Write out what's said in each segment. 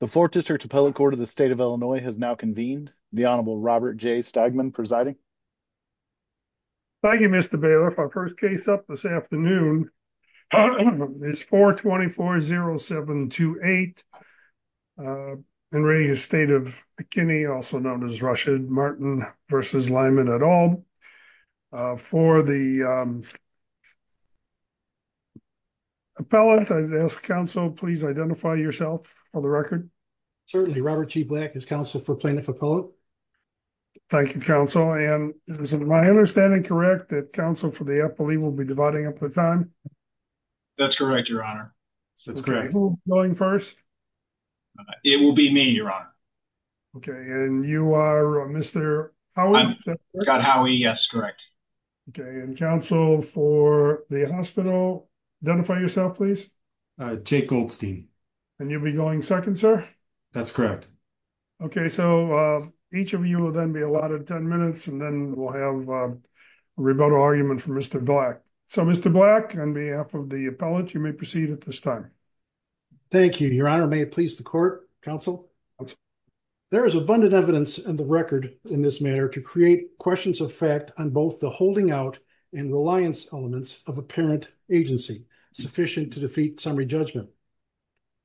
The 4th District Appellate Court of the State of Illinois has now convened. The Honorable Robert J. Stegman presiding. Thank you, Mr. Baylor. Our first case up this afternoon is 424-0728 in the state of McKinney, also known as Rushard Martin v. Lyman et al. For the appellate, I'd ask counsel to please identify yourself for the record. Certainly. Robert G. Black is counsel for plaintiff appellate. Thank you, counsel. And is my understanding correct that counsel for the appellee will be dividing up the time? That's correct, Your Honor. Who's going first? It will be me, Your Honor. Okay. And you are Mr. Howie? I'm Scott Howie. Yes, correct. Okay. And counsel for the hospital, identify yourself, please. Jake Goldstein. And you'll be going second, sir? That's correct. Okay. So each of you will then be allotted 10 minutes and then we'll have a rebuttal argument from Mr. Black. So, Mr. Black, on behalf of the appellate, you may proceed at this time. Thank you, Your Honor. May it please the court? Counsel? There is abundant evidence in the record in this matter to create questions of fact on both the holding out and reliance elements of apparent agency sufficient to defeat summary judgment.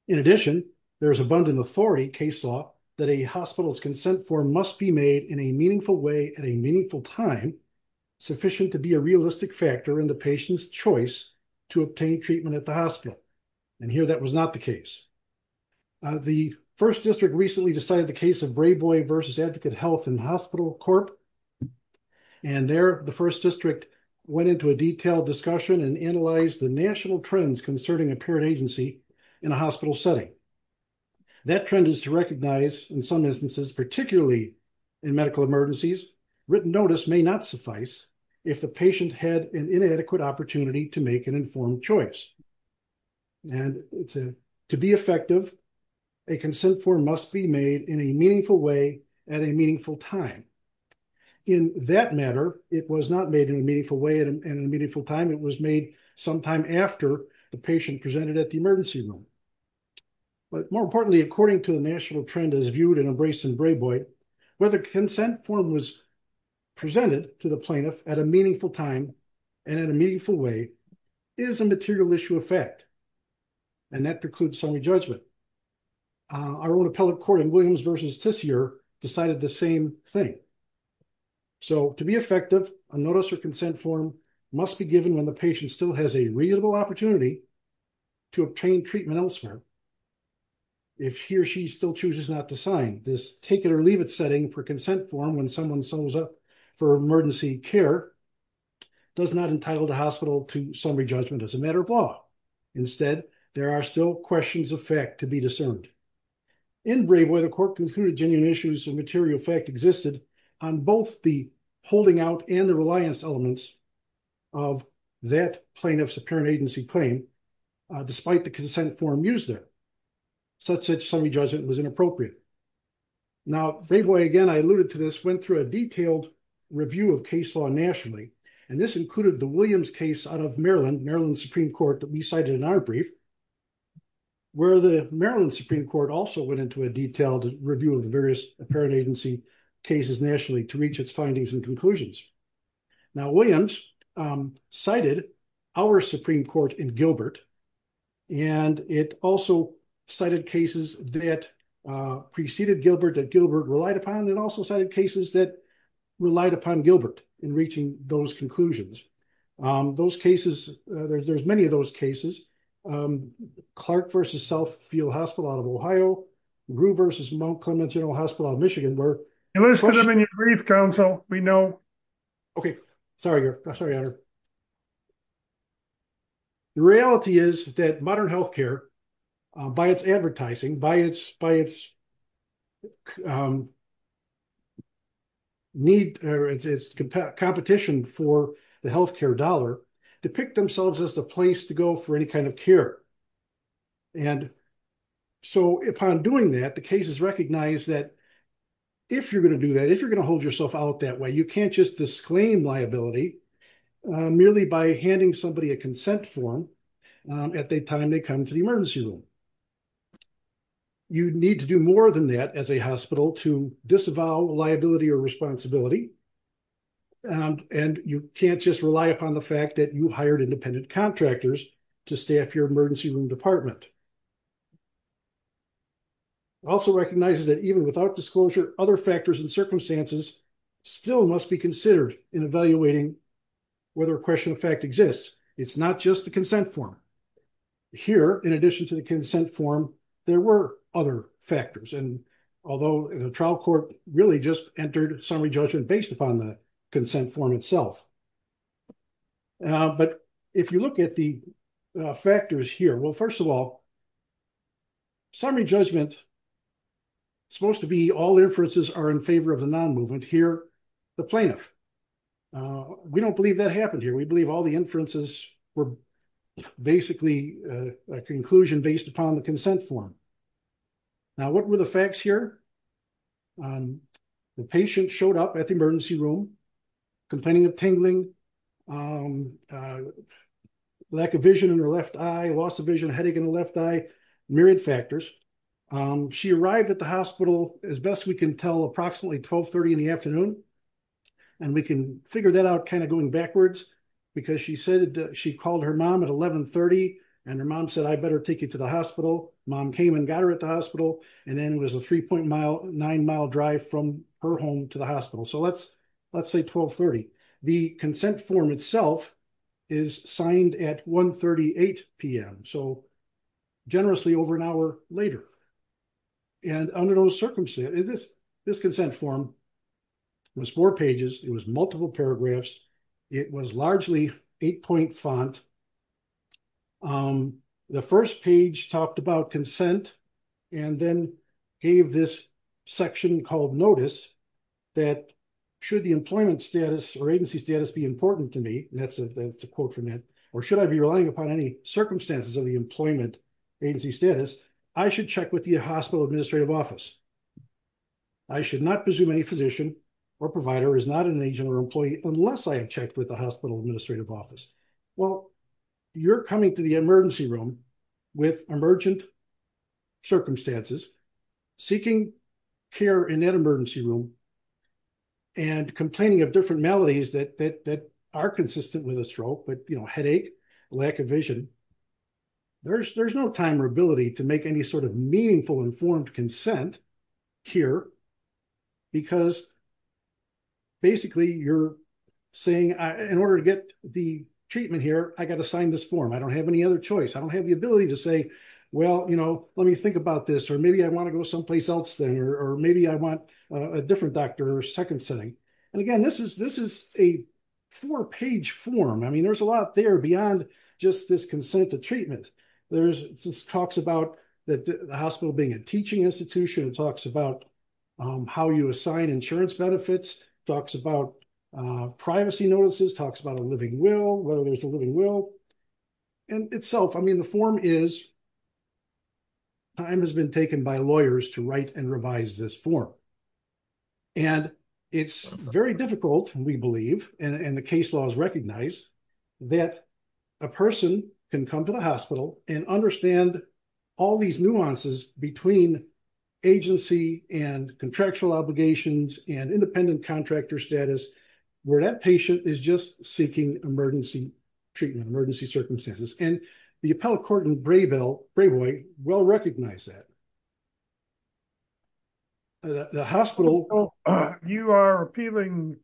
In addition, there is abundant authority case law that a hospital's consent form must be made in a meaningful way at a meaningful time sufficient to be a realistic factor in the patient's choice to obtain treatment at the hospital. And here that was not the case. The first district recently decided the case of Brayboy versus Advocate Health and Hospital Corp. And there, the first district went into a detailed discussion and analyzed the national trends concerning apparent agency in a hospital setting. That trend is to recognize in some instances, particularly in medical emergencies, written notice may not suffice if the patient had an inadequate opportunity to make an informed choice. And to be effective, a consent form must be made in a meaningful way at a meaningful time. In that matter, it was not made in a meaningful way and in a meaningful time. It was made sometime after the patient presented at the emergency room. But more importantly, according to the national trend as viewed and embraced in Brayboy, whether consent form was presented to the plaintiff at a meaningful time and in a meaningful way is a material issue of fact. And that precludes summary judgment. Our own appellate court in Williams versus Tisier decided the same thing. So to be effective, a notice or consent form must be given when the patient still has a reasonable opportunity to obtain treatment elsewhere. If he or she still chooses not to sign, this take it or leave it setting for consent form when someone sums up for emergency care does not entitle the hospital to summary judgment as a matter of law. Instead, there are still questions of fact to be discerned. In Brayboy, the court concluded genuine issues of material fact existed on both the holding out and the reliance elements of that plaintiff's apparent agency claim, despite the consent form used there, such that summary judgment was inappropriate. Now, Brayboy, again, I alluded to this, went through a detailed review of case law nationally, and this included the Williams case out of Maryland, Maryland Supreme Court that we cited in our brief, where the Maryland Supreme Court also went into a detailed review of the various apparent agency cases nationally to reach its findings and conclusions. Now, Williams cited our Supreme Court in Gilbert, and it also cited cases that preceded Gilbert that Gilbert relied upon and also cited cases that relied upon Gilbert in reaching those conclusions. Those cases, there's many of those cases, Clark versus Southfield Hospital out of Ohio, Grue versus Mount Clements General Hospital out of Michigan, where- You listed them in your brief, counsel, we know. Okay, sorry, Your Honor. The reality is that modern healthcare, by its advertising, by its competition for the healthcare dollar, depict themselves as the place to go for any kind of care. And so upon doing that, the cases recognize that if you're going to do that, if you're going to hold yourself out that way, you can't just disclaim liability merely by handing somebody a consent form at the time they come to the emergency room. You need to do more than that as a hospital to disavow liability or responsibility. And you can't just rely upon the fact that you hired independent contractors to staff your emergency room department. Also recognizes that even without disclosure, other factors and circumstances still must be considered in evaluating whether a question of fact exists. It's not just the consent form. Here, in addition to the consent form, there were other factors. And although the trial court really just entered summary judgment based upon the consent form itself. But if you look at the factors here, well, first of all, summary judgment is supposed to be all inferences are in favor of the non-movement. Here, the plaintiff. We don't believe that happened here. We believe all the inferences were basically a conclusion based upon the consent form. Now, what were the facts here? The patient showed up at the emergency room, complaining of tingling, lack of vision in her left eye, loss of vision, headache in the left eye, myriad factors. She arrived at the hospital, as best we can tell, approximately 1230 in the afternoon. And we can figure that out kind of going backwards, because she said she called her mom at 1130 and her mom said, I better take you to the hospital. Mom came and got her at the hospital. And then it was a 3.9 mile drive from her home to the hospital. So let's say 1230. The consent form itself is signed at 138 p.m., so generously over an hour later. And under those circumstances, this consent form was four pages. It was multiple paragraphs. It was largely eight point font. The first page talked about consent and then gave this section called notice that should the employment status or agency status be important to me, that's a quote from it, or should I be relying upon any circumstances of the employment agency status, I should check with the hospital administrative office. I should not presume any physician or provider is not an agent or employee unless I have checked with the hospital administrative office. Well, you're coming to the emergency room with emergent circumstances, seeking care in that emergency room, and complaining of different maladies that are consistent with a stroke, but headache, lack of vision. There's no time or ability to make any sort of meaningful informed consent here, because basically you're saying, in order to get the treatment here, I got to sign this form. I don't have any other choice. I don't have the ability to say, well, you know, let me think about this, or maybe I want to go someplace else then, or maybe I want a different doctor or second setting. And again, this is a four page form. I mean, there's a lot there beyond just this consent to treatment. There's talks about the hospital being a teaching institution, talks about how you assign insurance benefits, talks about privacy notices, talks about a living will, whether there's a living will. And itself, I mean, the form is, time has been taken by lawyers to write and revise this form. And it's very difficult, we believe, and the case laws recognize, that a person can come to the hospital and understand all these nuances between agency and contractual obligations and independent contractor status, where that patient is just seeking emergency treatment. And the appellate court in Brayboy will recognize that. The hospital... You're appealing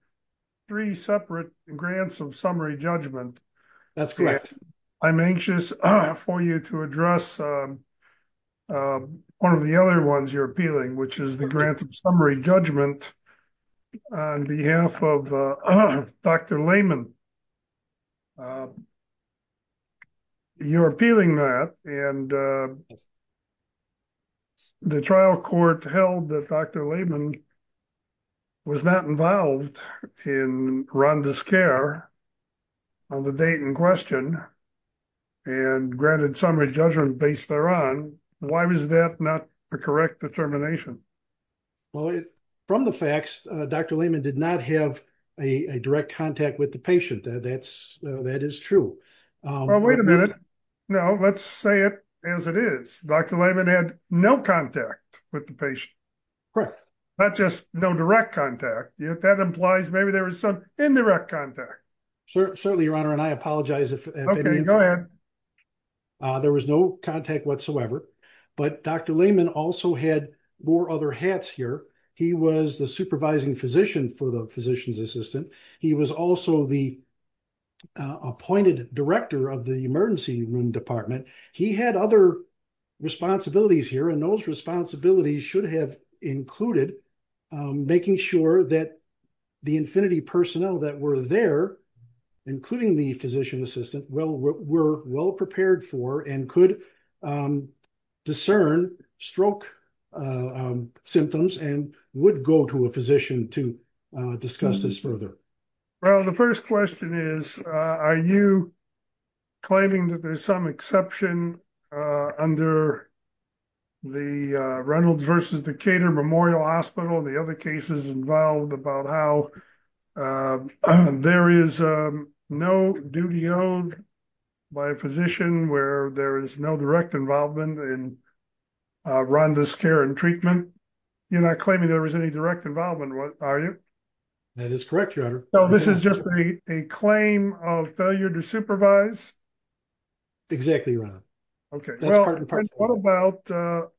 that, and the trial court held that Dr. Lehman was not involved in Rhonda's care on the date in question, and granted summary judgment based thereon. Why was that not the correct determination? Well, from the facts, Dr. Lehman did not have a direct contact with the patient. That is true. Well, wait a minute. No, let's say it as it is. Dr. Lehman had no contact with the patient. Correct. Not just no direct contact. That implies maybe there was some indirect contact. Certainly, Your Honor, and I apologize if... Okay, go ahead. There was no contact whatsoever. But Dr. Lehman also had more other hats here. He was the supervising physician for the physician's assistant. He was also the appointed director of the emergency room department. He had other responsibilities here, and those responsibilities should have included making sure that the infinity personnel that were there, including the physician assistant, were well prepared for and could discern stroke symptoms and would go to a physician to discuss this further. Well, the first question is, are you claiming that there's some exception under the Reynolds versus Decatur Memorial Hospital and the other cases involved about how there is no duty owed by a physician where there is no direct involvement in Rhonda's care and treatment? You're not claiming there was any direct involvement, are you? That is correct, Your Honor. So this is just a claim of failure to supervise? Exactly, Your Honor. Okay, well, what about the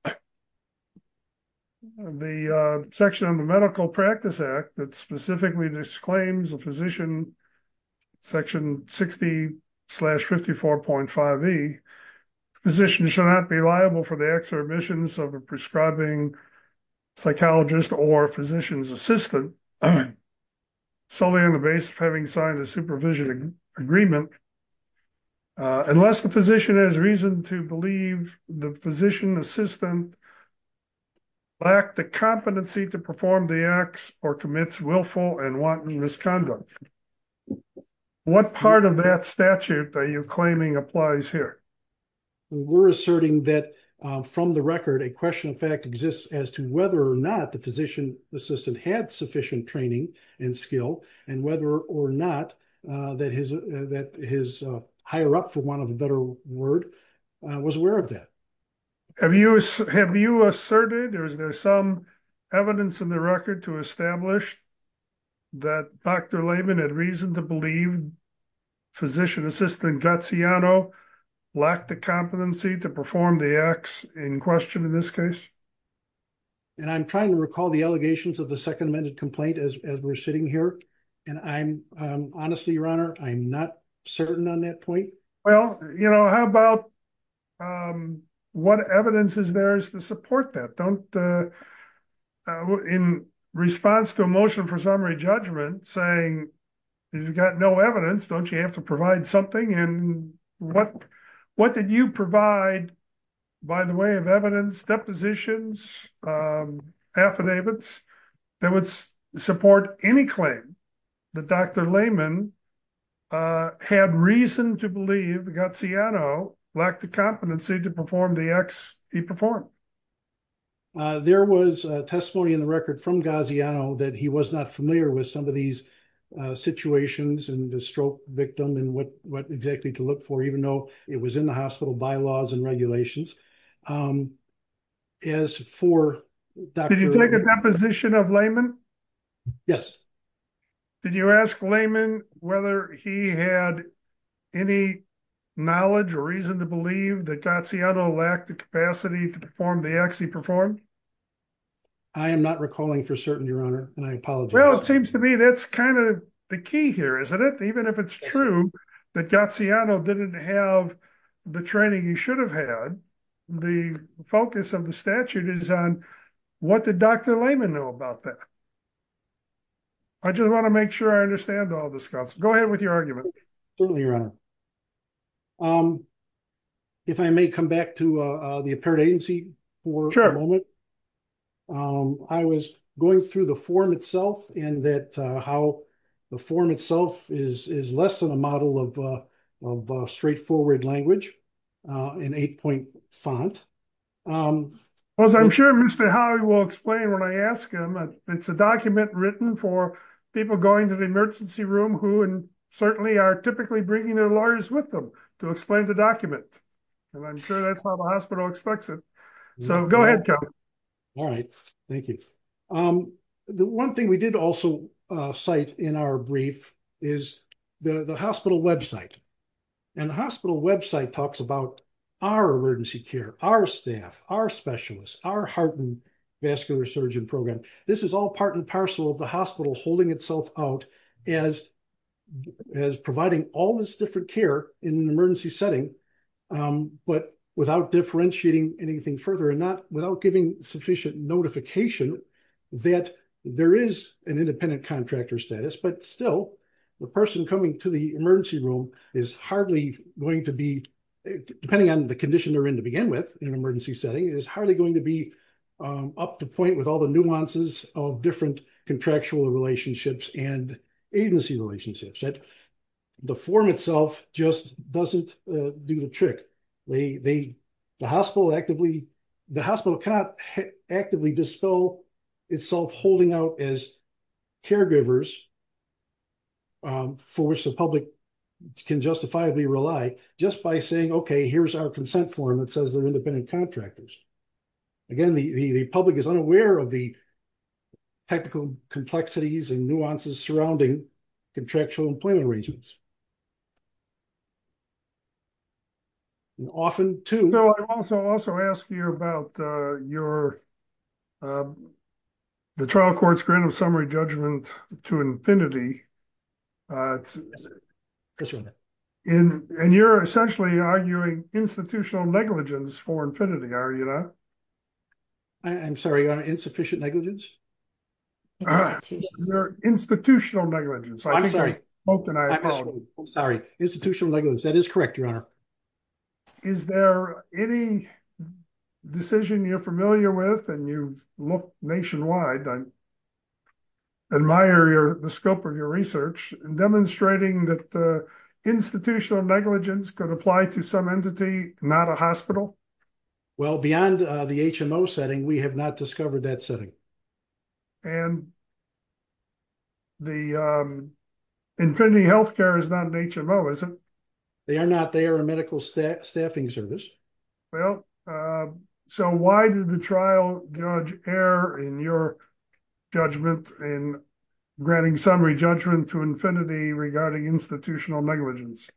section of the Medical Practice Act that specifically disclaims a physician, section 60 slash 54.5E, physician should not be liable for the exorbitance of a prescribing psychologist or physician's assistant solely on the basis of having signed a supervision agreement, unless the physician has reason to believe the physician assistant lacked the competency to perform the acts or commits willful and wanton misconduct. What part of that statute are you claiming applies here? We're asserting that from the record, a question of fact exists as to whether or not the physician assistant had sufficient training and skill and whether or not that his higher up, for want of a better word, was aware of that. Have you have you asserted or is there some evidence in the record to establish that Dr. Layman had reason to believe physician assistant Gaziano lacked the competency to perform the acts in question in this case? And I'm trying to recall the allegations of the second amended complaint as we're sitting here. And I'm honestly, Your Honor, I'm not certain on that point. Well, you know, how about what evidence is there to support that? Don't in response to a motion for summary judgment saying you've got no evidence, don't you have to provide something? And what what did you provide by the way of evidence, depositions, affidavits that would support any claim that Dr. Layman had reason to believe Gaziano lacked the competency to perform the acts he performed? There was testimony in the record from Gaziano that he was not familiar with some of these situations and the stroke victim and what what exactly to look for, even though it was in the hospital bylaws and regulations. As for that, did you take a position of Layman? Yes. Did you ask Layman whether he had any knowledge or reason to believe that Gaziano lacked the capacity to perform the acts he performed? I am not recalling for certain, Your Honor, and I apologize. Well, it seems to me that's kind of the key here, isn't it? Even if it's true that Gaziano didn't have the training he should have had, the focus of the statute is on what did Dr. Layman know about that? I just want to make sure I understand all this stuff. Go ahead with your argument. Certainly, Your Honor. If I may come back to the apparent agency for a moment. I was going through the form itself and that how the form itself is less than a model of straightforward language in eight point font. I'm sure Mr. Howie will explain when I ask him. It's a document written for people going to the emergency room who certainly are typically bringing their lawyers with them to explain the document. And I'm sure that's how the hospital expects it. So go ahead. All right. Thank you. The one thing we did also cite in our brief is the hospital website. And the hospital website talks about our emergency care, our staff, our specialists, our heart and vascular surgeon program. This is all part and parcel of the hospital holding itself out as providing all this different care in an emergency setting, but without differentiating anything further and without giving sufficient notification that there is an independent contractor status. But still, the person coming to the emergency room is hardly going to be, depending on the condition they're in to begin with in an emergency setting, is hardly going to be up to point with all the nuances of different contractual relationships and agency relationships. The form itself just doesn't do the trick. The hospital cannot actively dispel itself holding out as caregivers for which the public can justifiably rely just by saying, okay, here's our consent form that says they're independent contractors. Again, the public is unaware of the technical complexities and nuances surrounding contractual employment arrangements. Often, too. I also ask you about your, the trial court's grant of summary judgment to infinity. And you're essentially arguing institutional negligence for infinity, are you not? I'm sorry, insufficient negligence? Institutional negligence. I'm sorry, institutional negligence. That is correct, Your Honor. Is there any decision you're familiar with and you've looked nationwide, I admire the scope of your research, demonstrating that institutional negligence could apply to some entity, not a hospital? Well, beyond the HMO setting, we have not discovered that setting. And the infinity healthcare is not an HMO, is it? They are not. They are a medical staffing service. Well, so why did the trial judge err in your judgment in granting summary judgment to infinity regarding institutional negligence?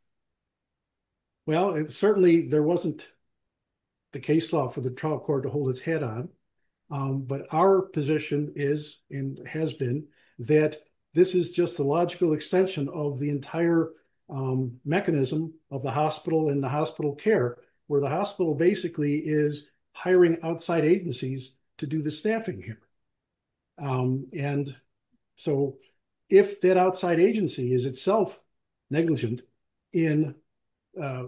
Well, certainly there wasn't the case law for the trial court to hold its head on. But our position is, and has been, that this is just the logical extension of the entire mechanism of the hospital and the hospital care, where the hospital basically is hiring outside agencies to do the staffing here. And so if that outside agency is itself negligent in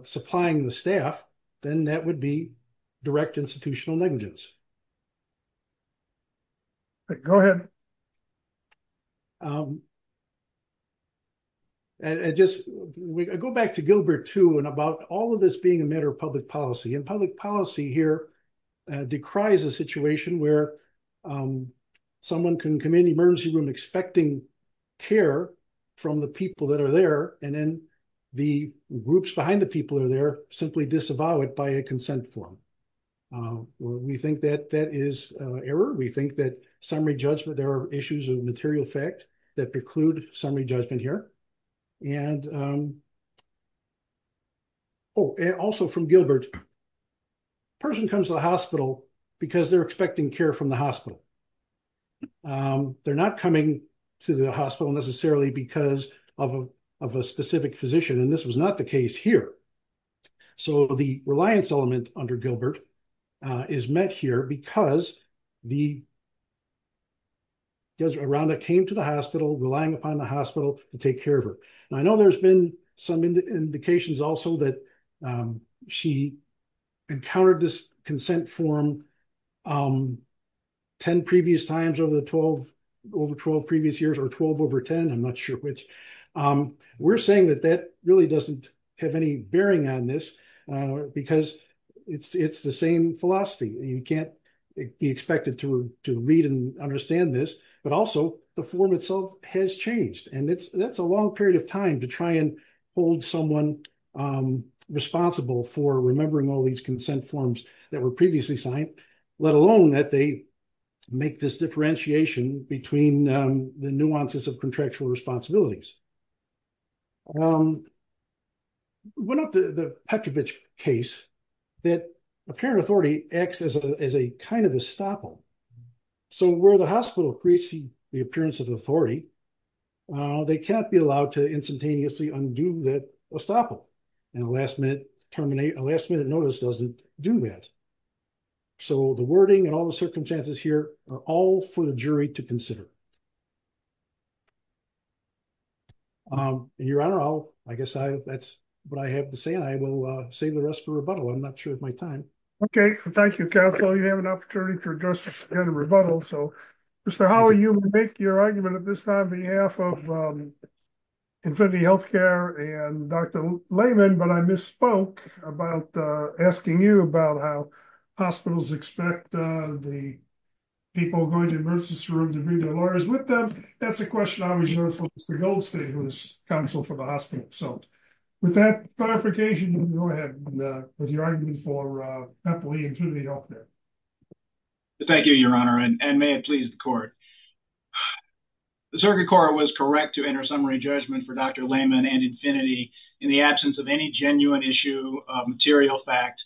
supplying the staff, then that would be direct institutional negligence. Go ahead. I just go back to Gilbert, too, and about all of this being a matter of public policy and public policy here decries a situation where someone can come in emergency room expecting care from the people that are there. And then the groups behind the people are there simply disavow it by a consent form. We think that that is error. We think that summary judgment, there are issues of material fact that preclude summary judgment here. And also from Gilbert, person comes to the hospital because they're expecting care from the hospital. They're not coming to the hospital necessarily because of a specific physician, and this was not the case here. So the reliance element under Gilbert is met here because the around that came to the hospital relying upon the hospital to take care of her. And I know there's been some indications also that she encountered this consent form. 10 previous times over the 12 over 12 previous years or 12 over 10 I'm not sure which. We're saying that that really doesn't have any bearing on this, because it's it's the same philosophy, you can't expect it to read and understand this, but also the form itself has changed and it's that's a long period of time to try and hold someone responsible for remembering all these consent forms that were previously signed, let alone that they make this differentiation between the nuances of contractual responsibilities. One of the Petrovich case that apparent authority acts as a, as a kind of a staple. So where the hospital creates the appearance of authority. They can't be allowed to instantaneously undo that a staple and last minute terminate a last minute notice doesn't do that. So the wording and all the circumstances here are all for the jury to consider. Your Honor, I'll, I guess I, that's what I have to say and I will save the rest for rebuttal I'm not sure if my time. Okay, thank you. Council you have an opportunity to address the rebuttal so Mr. How are you make your argument at this time behalf of infinity healthcare and Dr. Layman but I misspoke about asking you about how hospitals expect the people going to emergency room to read their lawyers with them. That's a question I was the gold state was counsel for the hospital. So, with that clarification. Go ahead. With your argument for happily into the author. Thank you, Your Honor and may it please the court. The circuit court was correct to enter summary judgment for Dr. Layman and infinity in the absence of any genuine issue material fact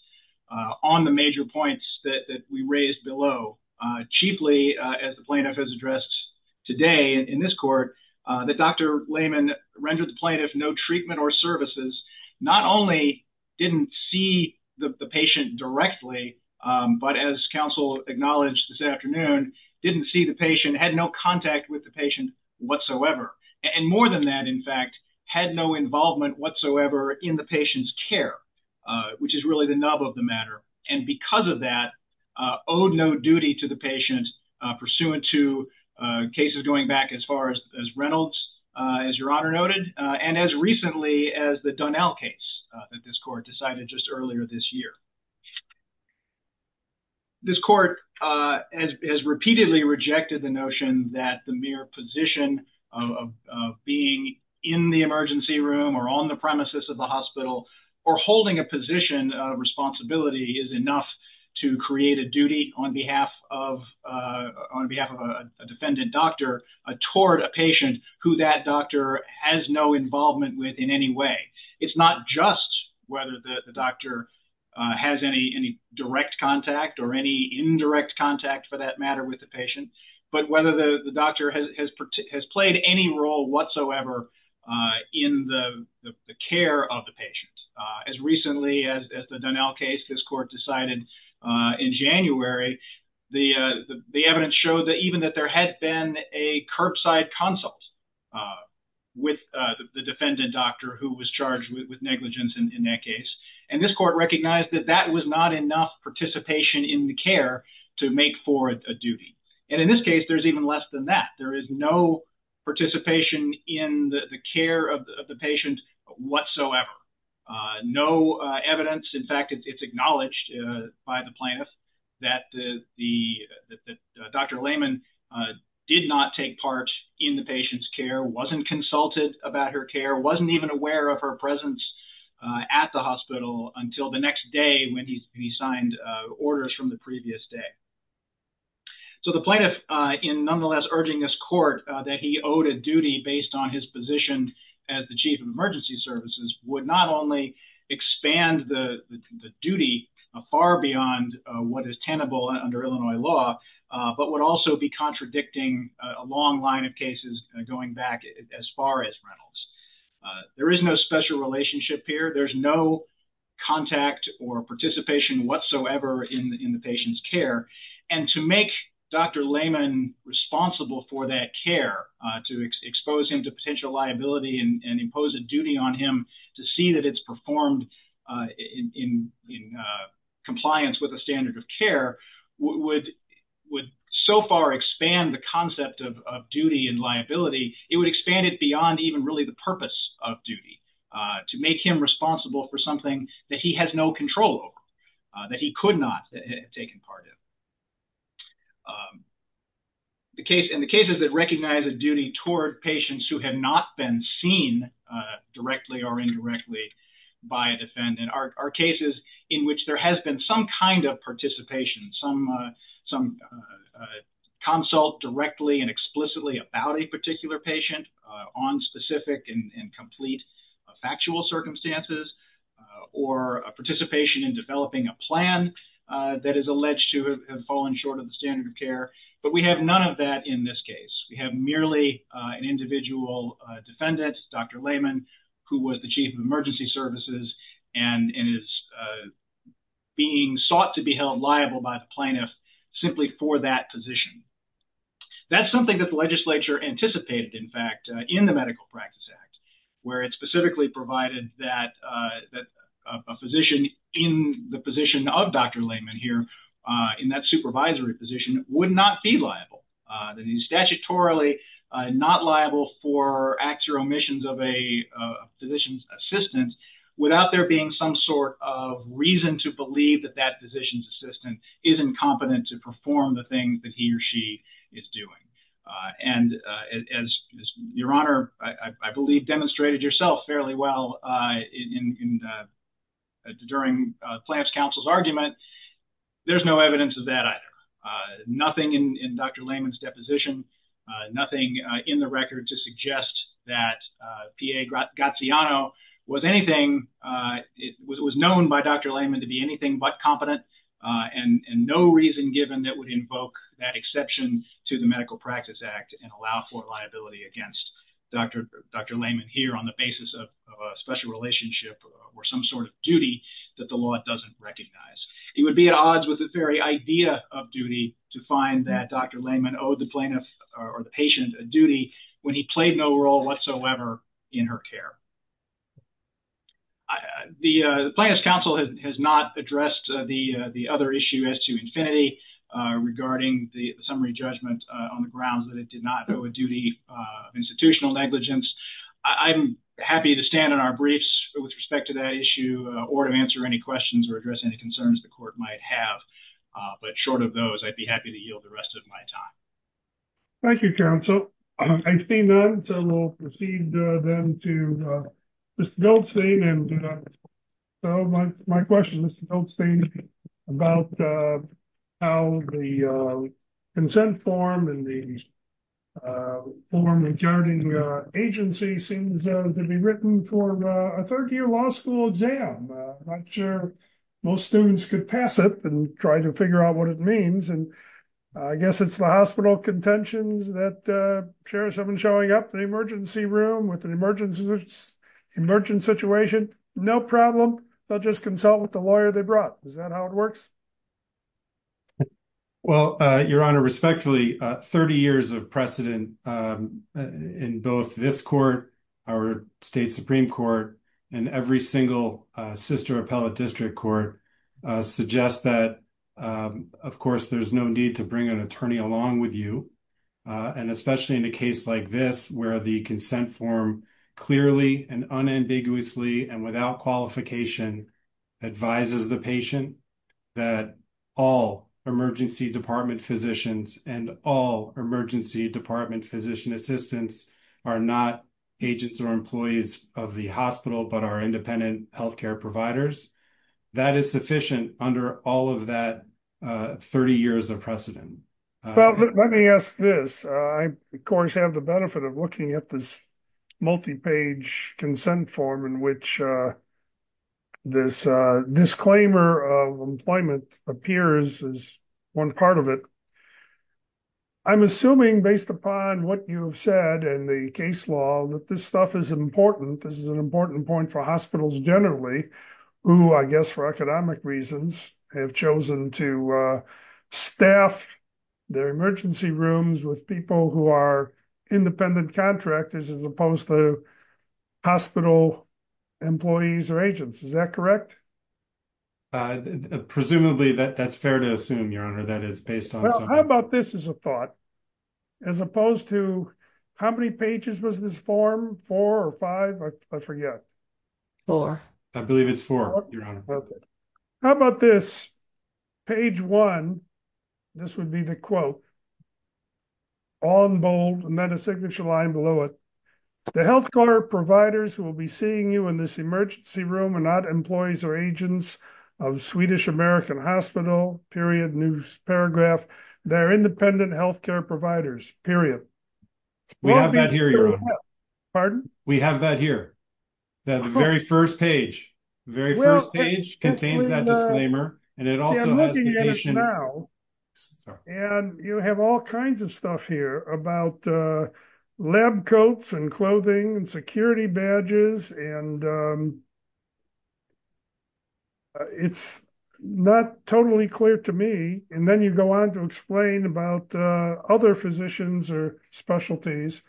on the major points that we raised below. Chiefly, as the plaintiff has addressed today in this court that Dr. Layman rendered the plaintiff no treatment or services, not only didn't see the patient directly. But as counsel acknowledged this afternoon, didn't see the patient had no contact with the patient whatsoever. And more than that, in fact, had no involvement whatsoever in the patient's care, which is really the nub of the matter. And because of that, owed no duty to the patient pursuant to cases going back as far as Reynolds, as Your Honor noted, and as recently as the Donnell case that this court decided just earlier this year. This court has repeatedly rejected the notion that the mere position of being in the emergency room or on the premises of the hospital or holding a position of responsibility is enough to create a duty on behalf of a defendant doctor toward a patient who that doctor has no involvement with in any way. It's not just whether the doctor has any direct contact or any indirect contact for that matter with the patient, but whether the doctor has played any role whatsoever in the care of the patient. As recently as the Donnell case, this court decided in January, the evidence showed that even that there had been a curbside consult with the defendant doctor who was charged with negligence in that case. And this court recognized that that was not enough participation in the care to make for a duty. And in this case, there's even less than that. There is no participation in the care of the patient whatsoever. No evidence. In fact, it's acknowledged by the plaintiff that Dr. Lehman did not take part in the patient's care, wasn't consulted about her care, wasn't even aware of her presence at the hospital until the next day when he signed orders from the previous day. So the plaintiff, in nonetheless urging this court that he owed a duty based on his position as the chief of emergency services, would not only expand the duty far beyond what is tenable under Illinois law, but would also be contradicting a long line of cases going back as far as Reynolds. There is no special relationship here. There's no contact or participation whatsoever in the patient's care. And to make Dr. Lehman responsible for that care, to expose him to potential liability and impose a duty on him, to see that it's performed in compliance with a standard of care would so far expand the concept of duty and liability. It would expand it beyond even really the purpose of duty, to make him responsible for something that he has no control over, that he could not have taken part in. And the cases that recognize a duty toward patients who have not been seen directly or indirectly by a defendant are cases in which there has been some kind of participation, some consult directly and explicitly about a particular patient on specific and complete factual circumstances or a participation in developing a plan that is alleged to have fallen short of the standard of care. But we have none of that in this case. We have merely an individual defendant, Dr. Lehman, who was the chief of emergency services and is being sought to be held liable by the plaintiff simply for that position. That's something that the legislature anticipated, in fact, in the Medical Practice Act, where it specifically provided that a physician in the position of Dr. Lehman here, in that supervisory position, would not be liable. That he's statutorily not liable for acts or omissions of a physician's assistant without there being some sort of reason to believe that that physician's assistant isn't competent to perform the things that he or she is doing. And as Your Honor, I believe, demonstrated yourself fairly well during Plaintiff's counsel's argument, there's no evidence of that either. Nothing in Dr. Lehman's deposition, nothing in the record to suggest that P.A. Gaziano was known by Dr. Lehman to be anything but competent and no reason given that would invoke that exception to the Medical Practice Act and allow for liability against Dr. Lehman here on the basis of a special relationship or some sort of duty that the law doesn't recognize. He would be at odds with the very idea of duty to find that Dr. Lehman owed the plaintiff or the patient a duty when he played no role whatsoever in her care. The Plaintiff's counsel has not addressed the other issue as to infinity regarding the summary judgment on the grounds that it did not owe a duty of institutional negligence. I'm happy to stand on our briefs with respect to that issue or to answer any questions or address any concerns the court might have. But short of those, I'd be happy to yield the rest of my time. Thank you, counsel. I see none, so we'll proceed then to Mr. Goldstein. My question, Mr. Goldstein, is about how the consent form and the form regarding agency seems to be written for a third year law school exam. I'm not sure most students could pass it and try to figure out what it means. And I guess it's the hospital contentions that chairs have been showing up in the emergency room with an emergency situation. No problem. They'll just consult with the lawyer they brought. Is that how it works? Well, Your Honor, respectfully, 30 years of precedent in both this court, our state Supreme Court, and every single sister appellate district court suggests that, of course, there's no need to bring an attorney along with you. And especially in a case like this, where the consent form clearly and unambiguously and without qualification advises the patient that all emergency department physicians and all emergency department physician assistants are not agents or employees of the hospital, but are independent health care providers. That is sufficient under all of that 30 years of precedent. Well, let me ask this. I, of course, have the benefit of looking at this multi-page consent form in which this disclaimer of employment appears as one part of it. I'm assuming based upon what you've said and the case law that this stuff is important. This is an important point for hospitals generally, who I guess for economic reasons have chosen to staff their emergency rooms with people who are independent contractors as opposed to hospital employees or agents. Is that correct? Presumably, that's fair to assume, Your Honor, that is based on something. Well, how about this as a thought? As opposed to how many pages was this form? Four or five? I forget. Four. I believe it's four, Your Honor. How about this? Page one. This would be the quote. All in bold, and then a signature line below it. The health care providers who will be seeing you in this emergency room are not employees or agents of Swedish American Hospital, period, news paragraph. They're independent health care providers, period. We have that here, Your Honor. Pardon? We have that here. The very first page. The very first page contains that disclaimer, and it also has the patient. And you have all kinds of stuff here about lab coats and clothing and security badges, and it's not totally clear to me. And then you go on to explain about other physicians or specialties,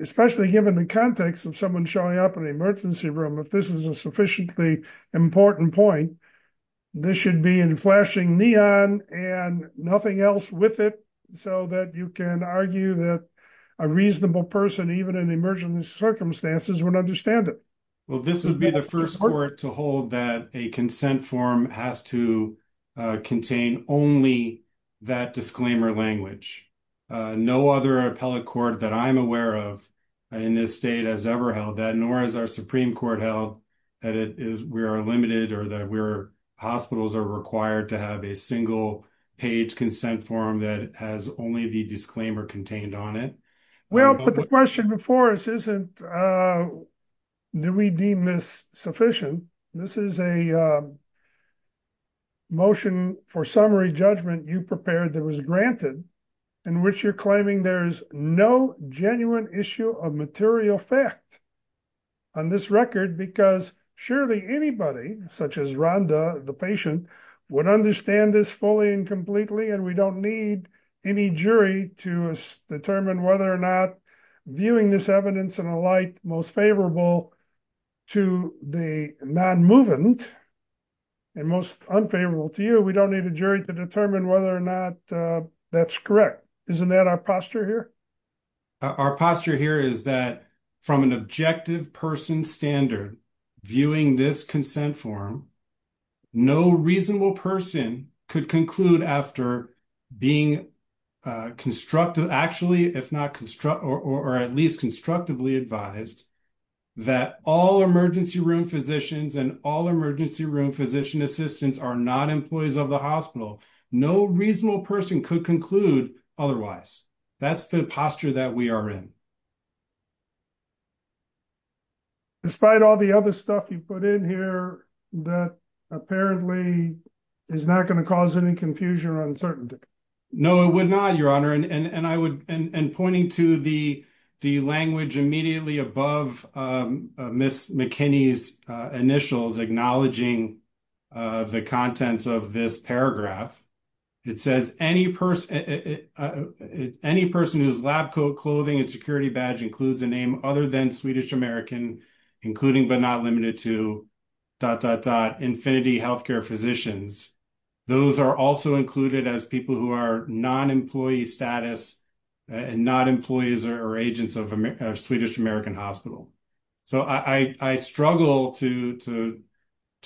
especially given the context of someone showing up in an emergency room. If this is a sufficiently important point, this should be in flashing neon and nothing else with it so that you can argue that a reasonable person, even in emergency circumstances, would understand it. Well, this would be the first court to hold that a consent form has to contain only that disclaimer language. No other appellate court that I'm aware of in this state has ever held that, nor has our Supreme Court held that we are limited or that hospitals are required to have a single page consent form that has only the disclaimer contained on it. Well, but the question before us isn't, do we deem this sufficient? This is a motion for summary judgment you prepared that was granted, in which you're claiming there's no genuine issue of material fact on this record, because surely anybody, such as Rhonda, the patient, would understand this fully and completely, and we don't need any jury to determine whether or not viewing this evidence in a light most favorable to the non-movement and most unfavorable to you, we don't need a jury to determine whether or not that's correct. Isn't that our posture here? Our posture here is that from an objective person standard, viewing this consent form, no reasonable person could conclude after being constructive, actually, if not, or at least constructively advised, that all emergency room physicians and all emergency room physician assistants are not employees of the hospital. No reasonable person could conclude otherwise. That's the posture that we are in. Despite all the other stuff you put in here that apparently is not going to cause any confusion or uncertainty. No, it would not, Your Honor. And pointing to the language immediately above Ms. McKinney's initials acknowledging the contents of this paragraph, it says, Any person whose lab coat, clothing, and security badge includes a name other than Swedish American, including but not limited to, dot, dot, dot, Infinity Healthcare Physicians, those are also included as people who are non-employee status and not employees or agents of Swedish American Hospital. So I struggle to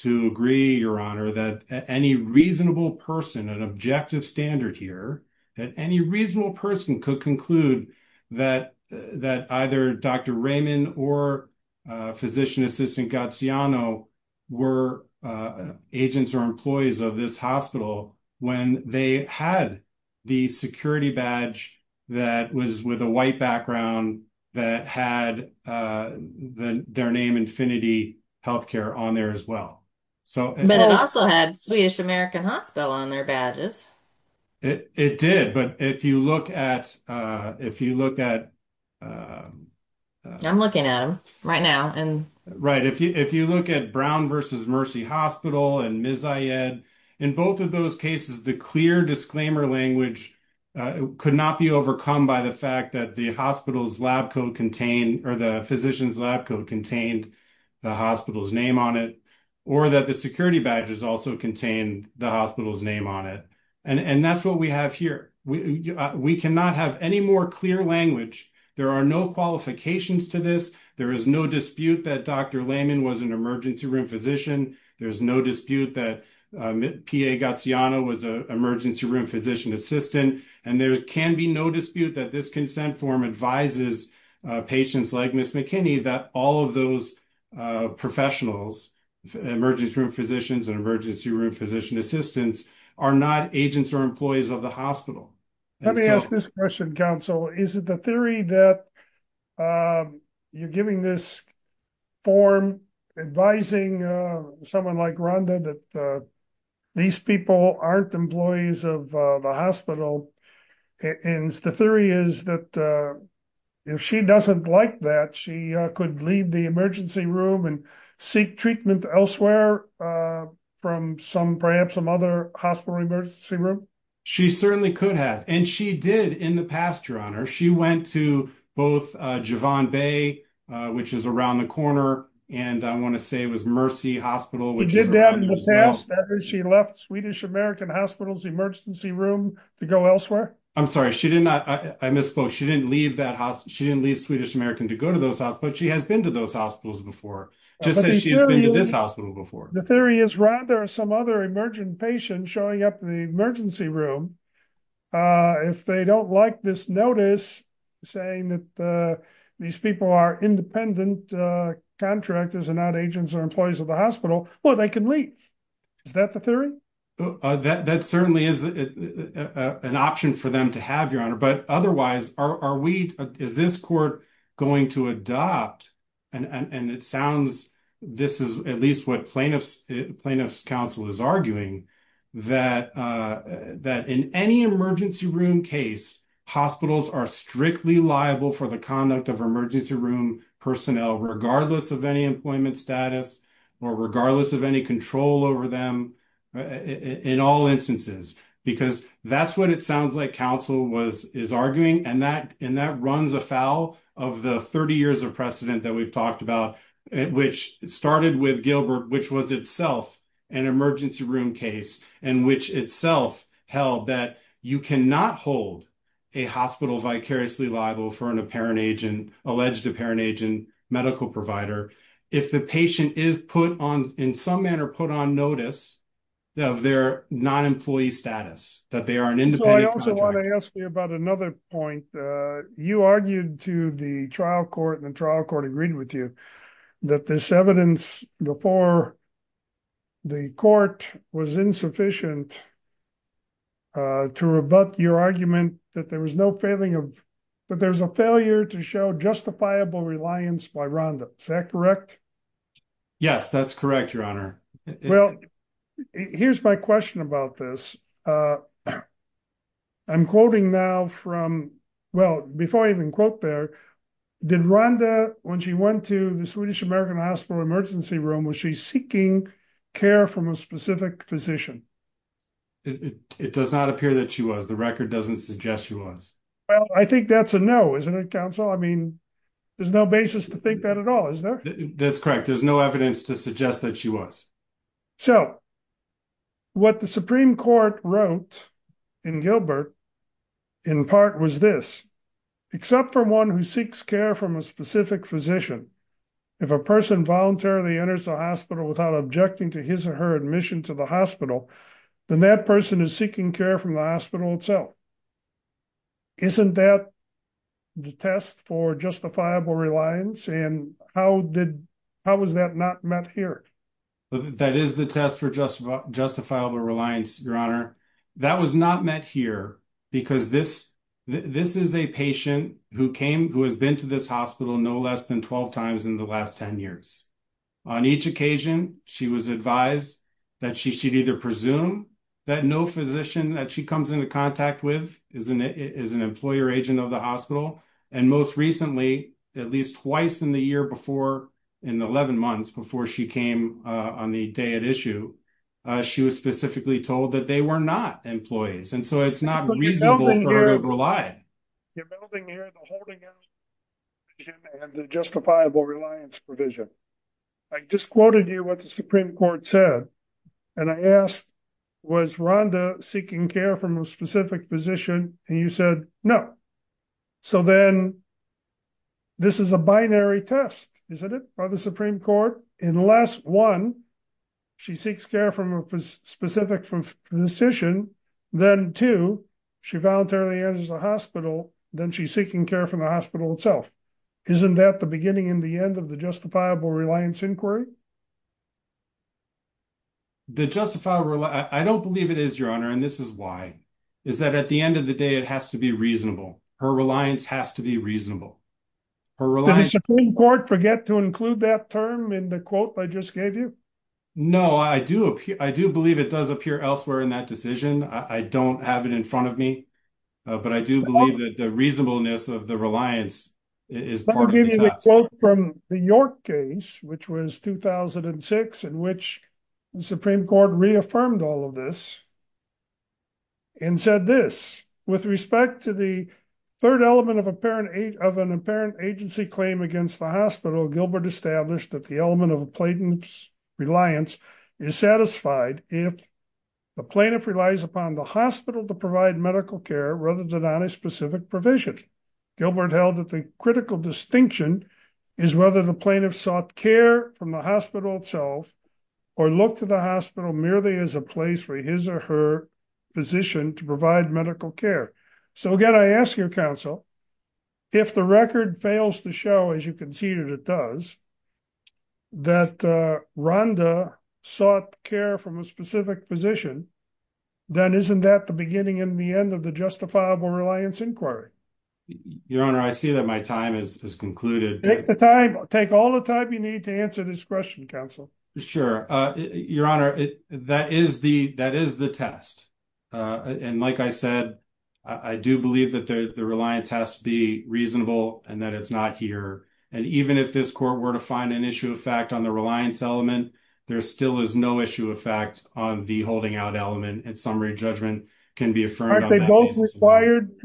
agree, Your Honor, that any reasonable person, an objective standard here, that any reasonable person could conclude that either Dr. Raymond or Physician Assistant Gaziano were agents or employees of this hospital when they had the security badge that was with a white background, that had their name, Infinity Healthcare, on there as well. But it also had Swedish American Hospital on their badges. It did, but if you look at, if you look at... I'm looking at them right now. Right, if you look at Brown versus Mercy Hospital and Ms. Ayed, in both of those cases, the clear disclaimer language could not be overcome by the fact that the hospital's lab coat contained, or the physician's lab coat contained the hospital's name on it, or that the security badges also contained the hospital's name on it. And that's what we have here. We cannot have any more clear language. There are no qualifications to this. There is no dispute that Dr. Raymond was an emergency room physician. There's no dispute that PA Gaziano was an emergency room physician assistant. And there can be no dispute that this consent form advises patients like Ms. McKinney that all of those professionals, emergency room physicians and emergency room physician assistants, are not agents or employees of the hospital. Let me ask this question, counsel. Is it the theory that you're giving this form advising someone like Rhonda that these people aren't employees of the hospital? And the theory is that if she doesn't like that, she could leave the emergency room and seek treatment elsewhere from some, perhaps some other hospital emergency room? She certainly could have. And she did in the past, Your Honor. She went to both Javon Bay, which is around the corner, and I want to say it was Mercy Hospital. She did that in the past. She left Swedish American Hospital's emergency room to go elsewhere? I'm sorry, I misspoke. She didn't leave that hospital. She didn't leave Swedish American to go to those hospitals. But she has been to those hospitals before. Just as she's been to this hospital before. The theory is rather some other emergent patient showing up in the emergency room. If they don't like this notice saying that these people are independent contractors and not agents or employees of the hospital, well, they can leave. Is that the theory? That certainly is an option for them to have, Your Honor. But otherwise, are we, is this court going to adopt, and it sounds, this is at least what plaintiff's counsel is arguing, that in any emergency room case, hospitals are strictly liable for the conduct of emergency room personnel, regardless of any employment status, or regardless of any control over them in all instances. Because that's what it sounds like counsel is arguing. And that runs afoul of the 30 years of precedent that we've talked about, which started with Gilbert, which was itself an emergency room case, and which itself held that you cannot hold a hospital vicariously liable for an apparent agent, alleged apparent agent, medical provider, if the patient is put on, in some manner, put on notice of their non-employee status, that they are an independent contractor. I want to ask you about another point. You argued to the trial court, and the trial court agreed with you, that this evidence before the court was insufficient to rebut your argument that there was no failing of, that there's a failure to show justifiable reliance by Rhonda. Is that correct? Yes, that's correct, Your Honor. Well, here's my question about this. I'm quoting now from, well, before I even quote there, did Rhonda, when she went to the Swedish American Hospital emergency room, was she seeking care from a specific physician? It does not appear that she was. The record doesn't suggest she was. Well, I think that's a no, isn't it, counsel? I mean, there's no basis to think that at all, is there? That's correct. There's no evidence to suggest that she was. So, what the Supreme Court wrote in Gilbert, in part, was this, except for one who seeks care from a specific physician, if a person voluntarily enters the hospital without objecting to his or her admission to the hospital, then that person is seeking care from the hospital itself. Isn't that the test for justifiable reliance? And how was that not met here? That is the test for justifiable reliance, Your Honor. That was not met here because this is a patient who has been to this hospital no less than 12 times in the last 10 years. On each occasion, she was advised that she should either presume that no physician that she comes into contact with is an employer agent of the hospital. And most recently, at least twice in the year before, in the 11 months before she came on the day at issue, she was specifically told that they were not employees. And so, it's not reasonable for her to rely. You're building here the holding out provision and the justifiable reliance provision. I just quoted you what the Supreme Court said, and I asked, was Rhonda seeking care from a specific physician, and you said no. So then, this is a binary test, isn't it, by the Supreme Court? Unless one, she seeks care from a specific physician, then two, she voluntarily enters the hospital, then she's seeking care from the hospital itself. Isn't that the beginning and the end of the justifiable reliance inquiry? I don't believe it is, Your Honor, and this is why. It's that at the end of the day, it has to be reasonable. Her reliance has to be reasonable. Did the Supreme Court forget to include that term in the quote I just gave you? No, I do believe it does appear elsewhere in that decision. I don't have it in front of me, but I do believe that the reasonableness of the reliance is part of the test. I quote from the York case, which was 2006, in which the Supreme Court reaffirmed all of this and said this, with respect to the third element of an apparent agency claim against the hospital, Gilbert established that the element of a plaintiff's reliance is satisfied if the plaintiff relies upon the hospital to provide medical care rather than on a specific provision. Gilbert held that the critical distinction is whether the plaintiff sought care from the hospital itself or looked to the hospital merely as a place for his or her physician to provide medical care. So again, I ask your counsel, if the record fails to show, as you conceded it does, that Rhonda sought care from a specific physician, then isn't that the beginning and the end of the justifiable reliance inquiry? Your Honor, I see that my time has concluded. Take all the time you need to answer this question, counsel. Sure. Your Honor, that is the test. And like I said, I do believe that the reliance has to be reasonable and that it's not here. And even if this court were to find an issue of fact on the reliance element, there still is no issue of fact on the holding out element and summary judgment can be affirmed on that basis. Aren't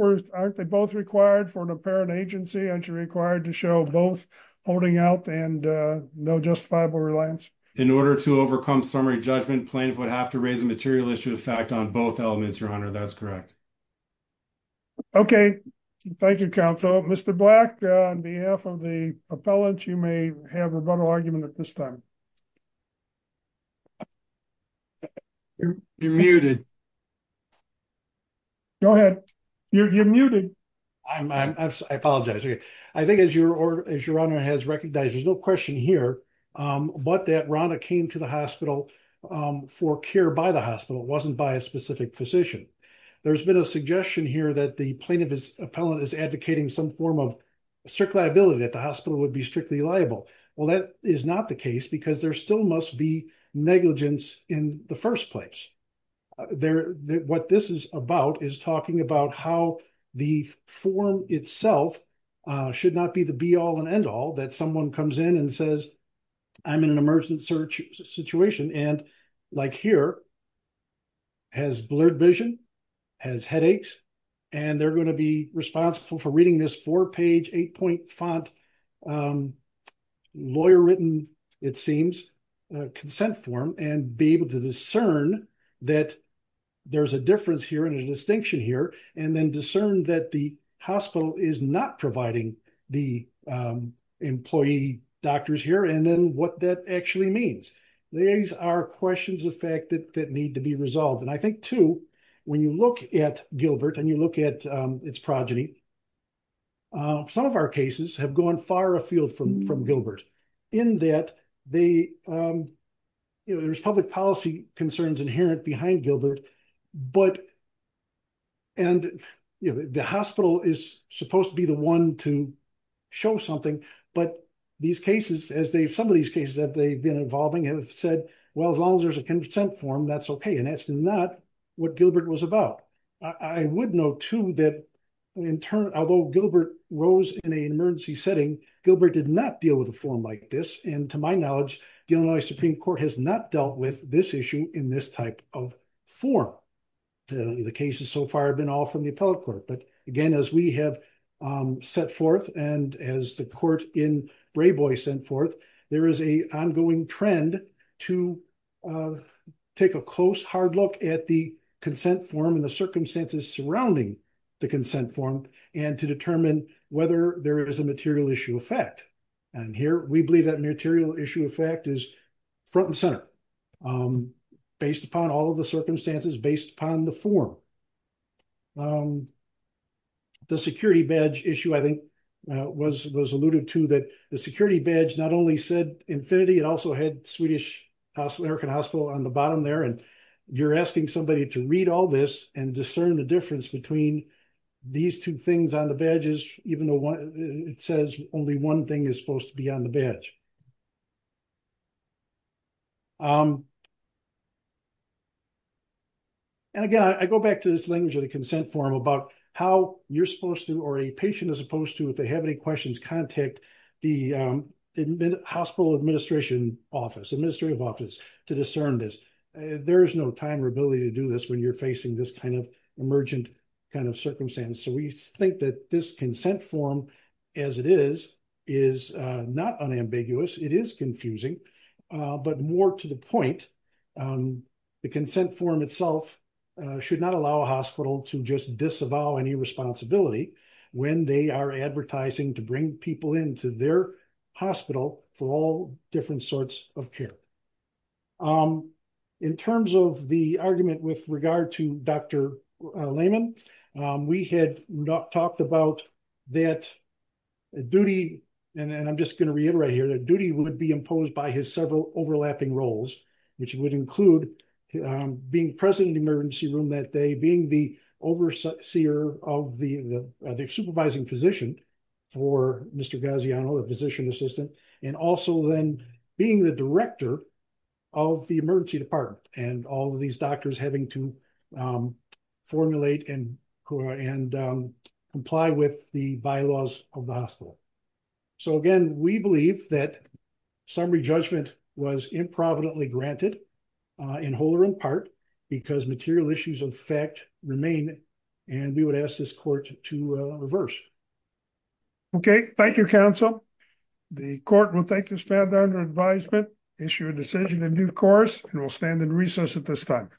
they both required for an apparent agency? Aren't you required to show both holding out and no justifiable reliance? In order to overcome summary judgment, plaintiff would have to raise a material issue of fact on both elements, Your Honor. That's correct. Okay. Thank you, counsel. Mr. Black, on behalf of the appellant, you may have a rebuttal argument at this time. You're muted. Go ahead. You're muted. I apologize. I think as Your Honor has recognized, there's no question here, but that Rhonda came to the hospital for care by the hospital wasn't by a specific physician. There's been a suggestion here that the plaintiff's appellant is advocating some form of strict liability that the hospital would be strictly liable. Well, that is not the case because there still must be negligence in the first place. What this is about is talking about how the form itself should not be the be-all and end-all that someone comes in and says, I'm in an emergency situation and like here, has blurred vision, has headaches, and they're going to be responsible for reading this four-page, eight-point font, lawyer-written, it seems, consent form and be able to discern that there's a difference here and a distinction here and then discern that the hospital is not providing the employee doctors here and then what that actually means. These are questions of fact that need to be resolved. And I think, too, when you look at Gilbert and you look at its progeny, some of our cases have gone far afield from Gilbert in that there's public policy concerns inherent behind Gilbert, and the hospital is supposed to be the one to show something, but some of these cases that they've been involving have said, well, as long as there's a consent form, that's okay, and that's not what Gilbert was about. I would note, too, that although Gilbert rose in an emergency setting, Gilbert did not deal with a form like this, and to my knowledge, the Illinois Supreme Court has not dealt with this issue in this type of form. The cases so far have been all from the appellate court, but again, as we have set forth and as the court in Brayboy sent forth, there is an ongoing trend to take a close, hard look at the consent form and the circumstances surrounding the consent form and to determine whether there is a material issue of fact. And here, we believe that material issue of fact is front and center, based upon all of the circumstances, based upon the form. The security badge issue, I think, was alluded to, that the security badge not only said infinity, it also had Swedish American Hospital on the bottom there, and you're asking somebody to read all this and discern the difference between these two things on the badges, even though it says only one thing is supposed to be on the badge. And again, I go back to this language of the consent form about how you're supposed to, or a patient is supposed to, if they have any questions, contact the hospital administration office, administrative office, to discern this. There is no time or ability to do this when you're facing this kind of emergent kind of circumstance. So we think that this consent form, as it is, is not unambiguous. It is confusing, but more to the point, the consent form itself should not allow a hospital to just disavow any responsibility when they are advertising to bring people into their hospital for all different sorts of care. In terms of the argument with regard to Dr. Lehman, we had talked about that duty, and I'm just going to reiterate here, that duty would be imposed by his several overlapping roles, which would include being president of the emergency room that day, being the overseer of the supervising physician for Mr. Gaziano, the physician assistant, and also then being the director of the emergency department and all of these doctors having to formulate and comply with the bylaws of the hospital. So again, we believe that summary judgment was improvidently granted in whole or in part because material issues of fact remain, and we would ask this court to reverse. Okay, thank you, counsel. The court will take this matter under advisement, issue a decision in due course, and we'll stand in recess at this time.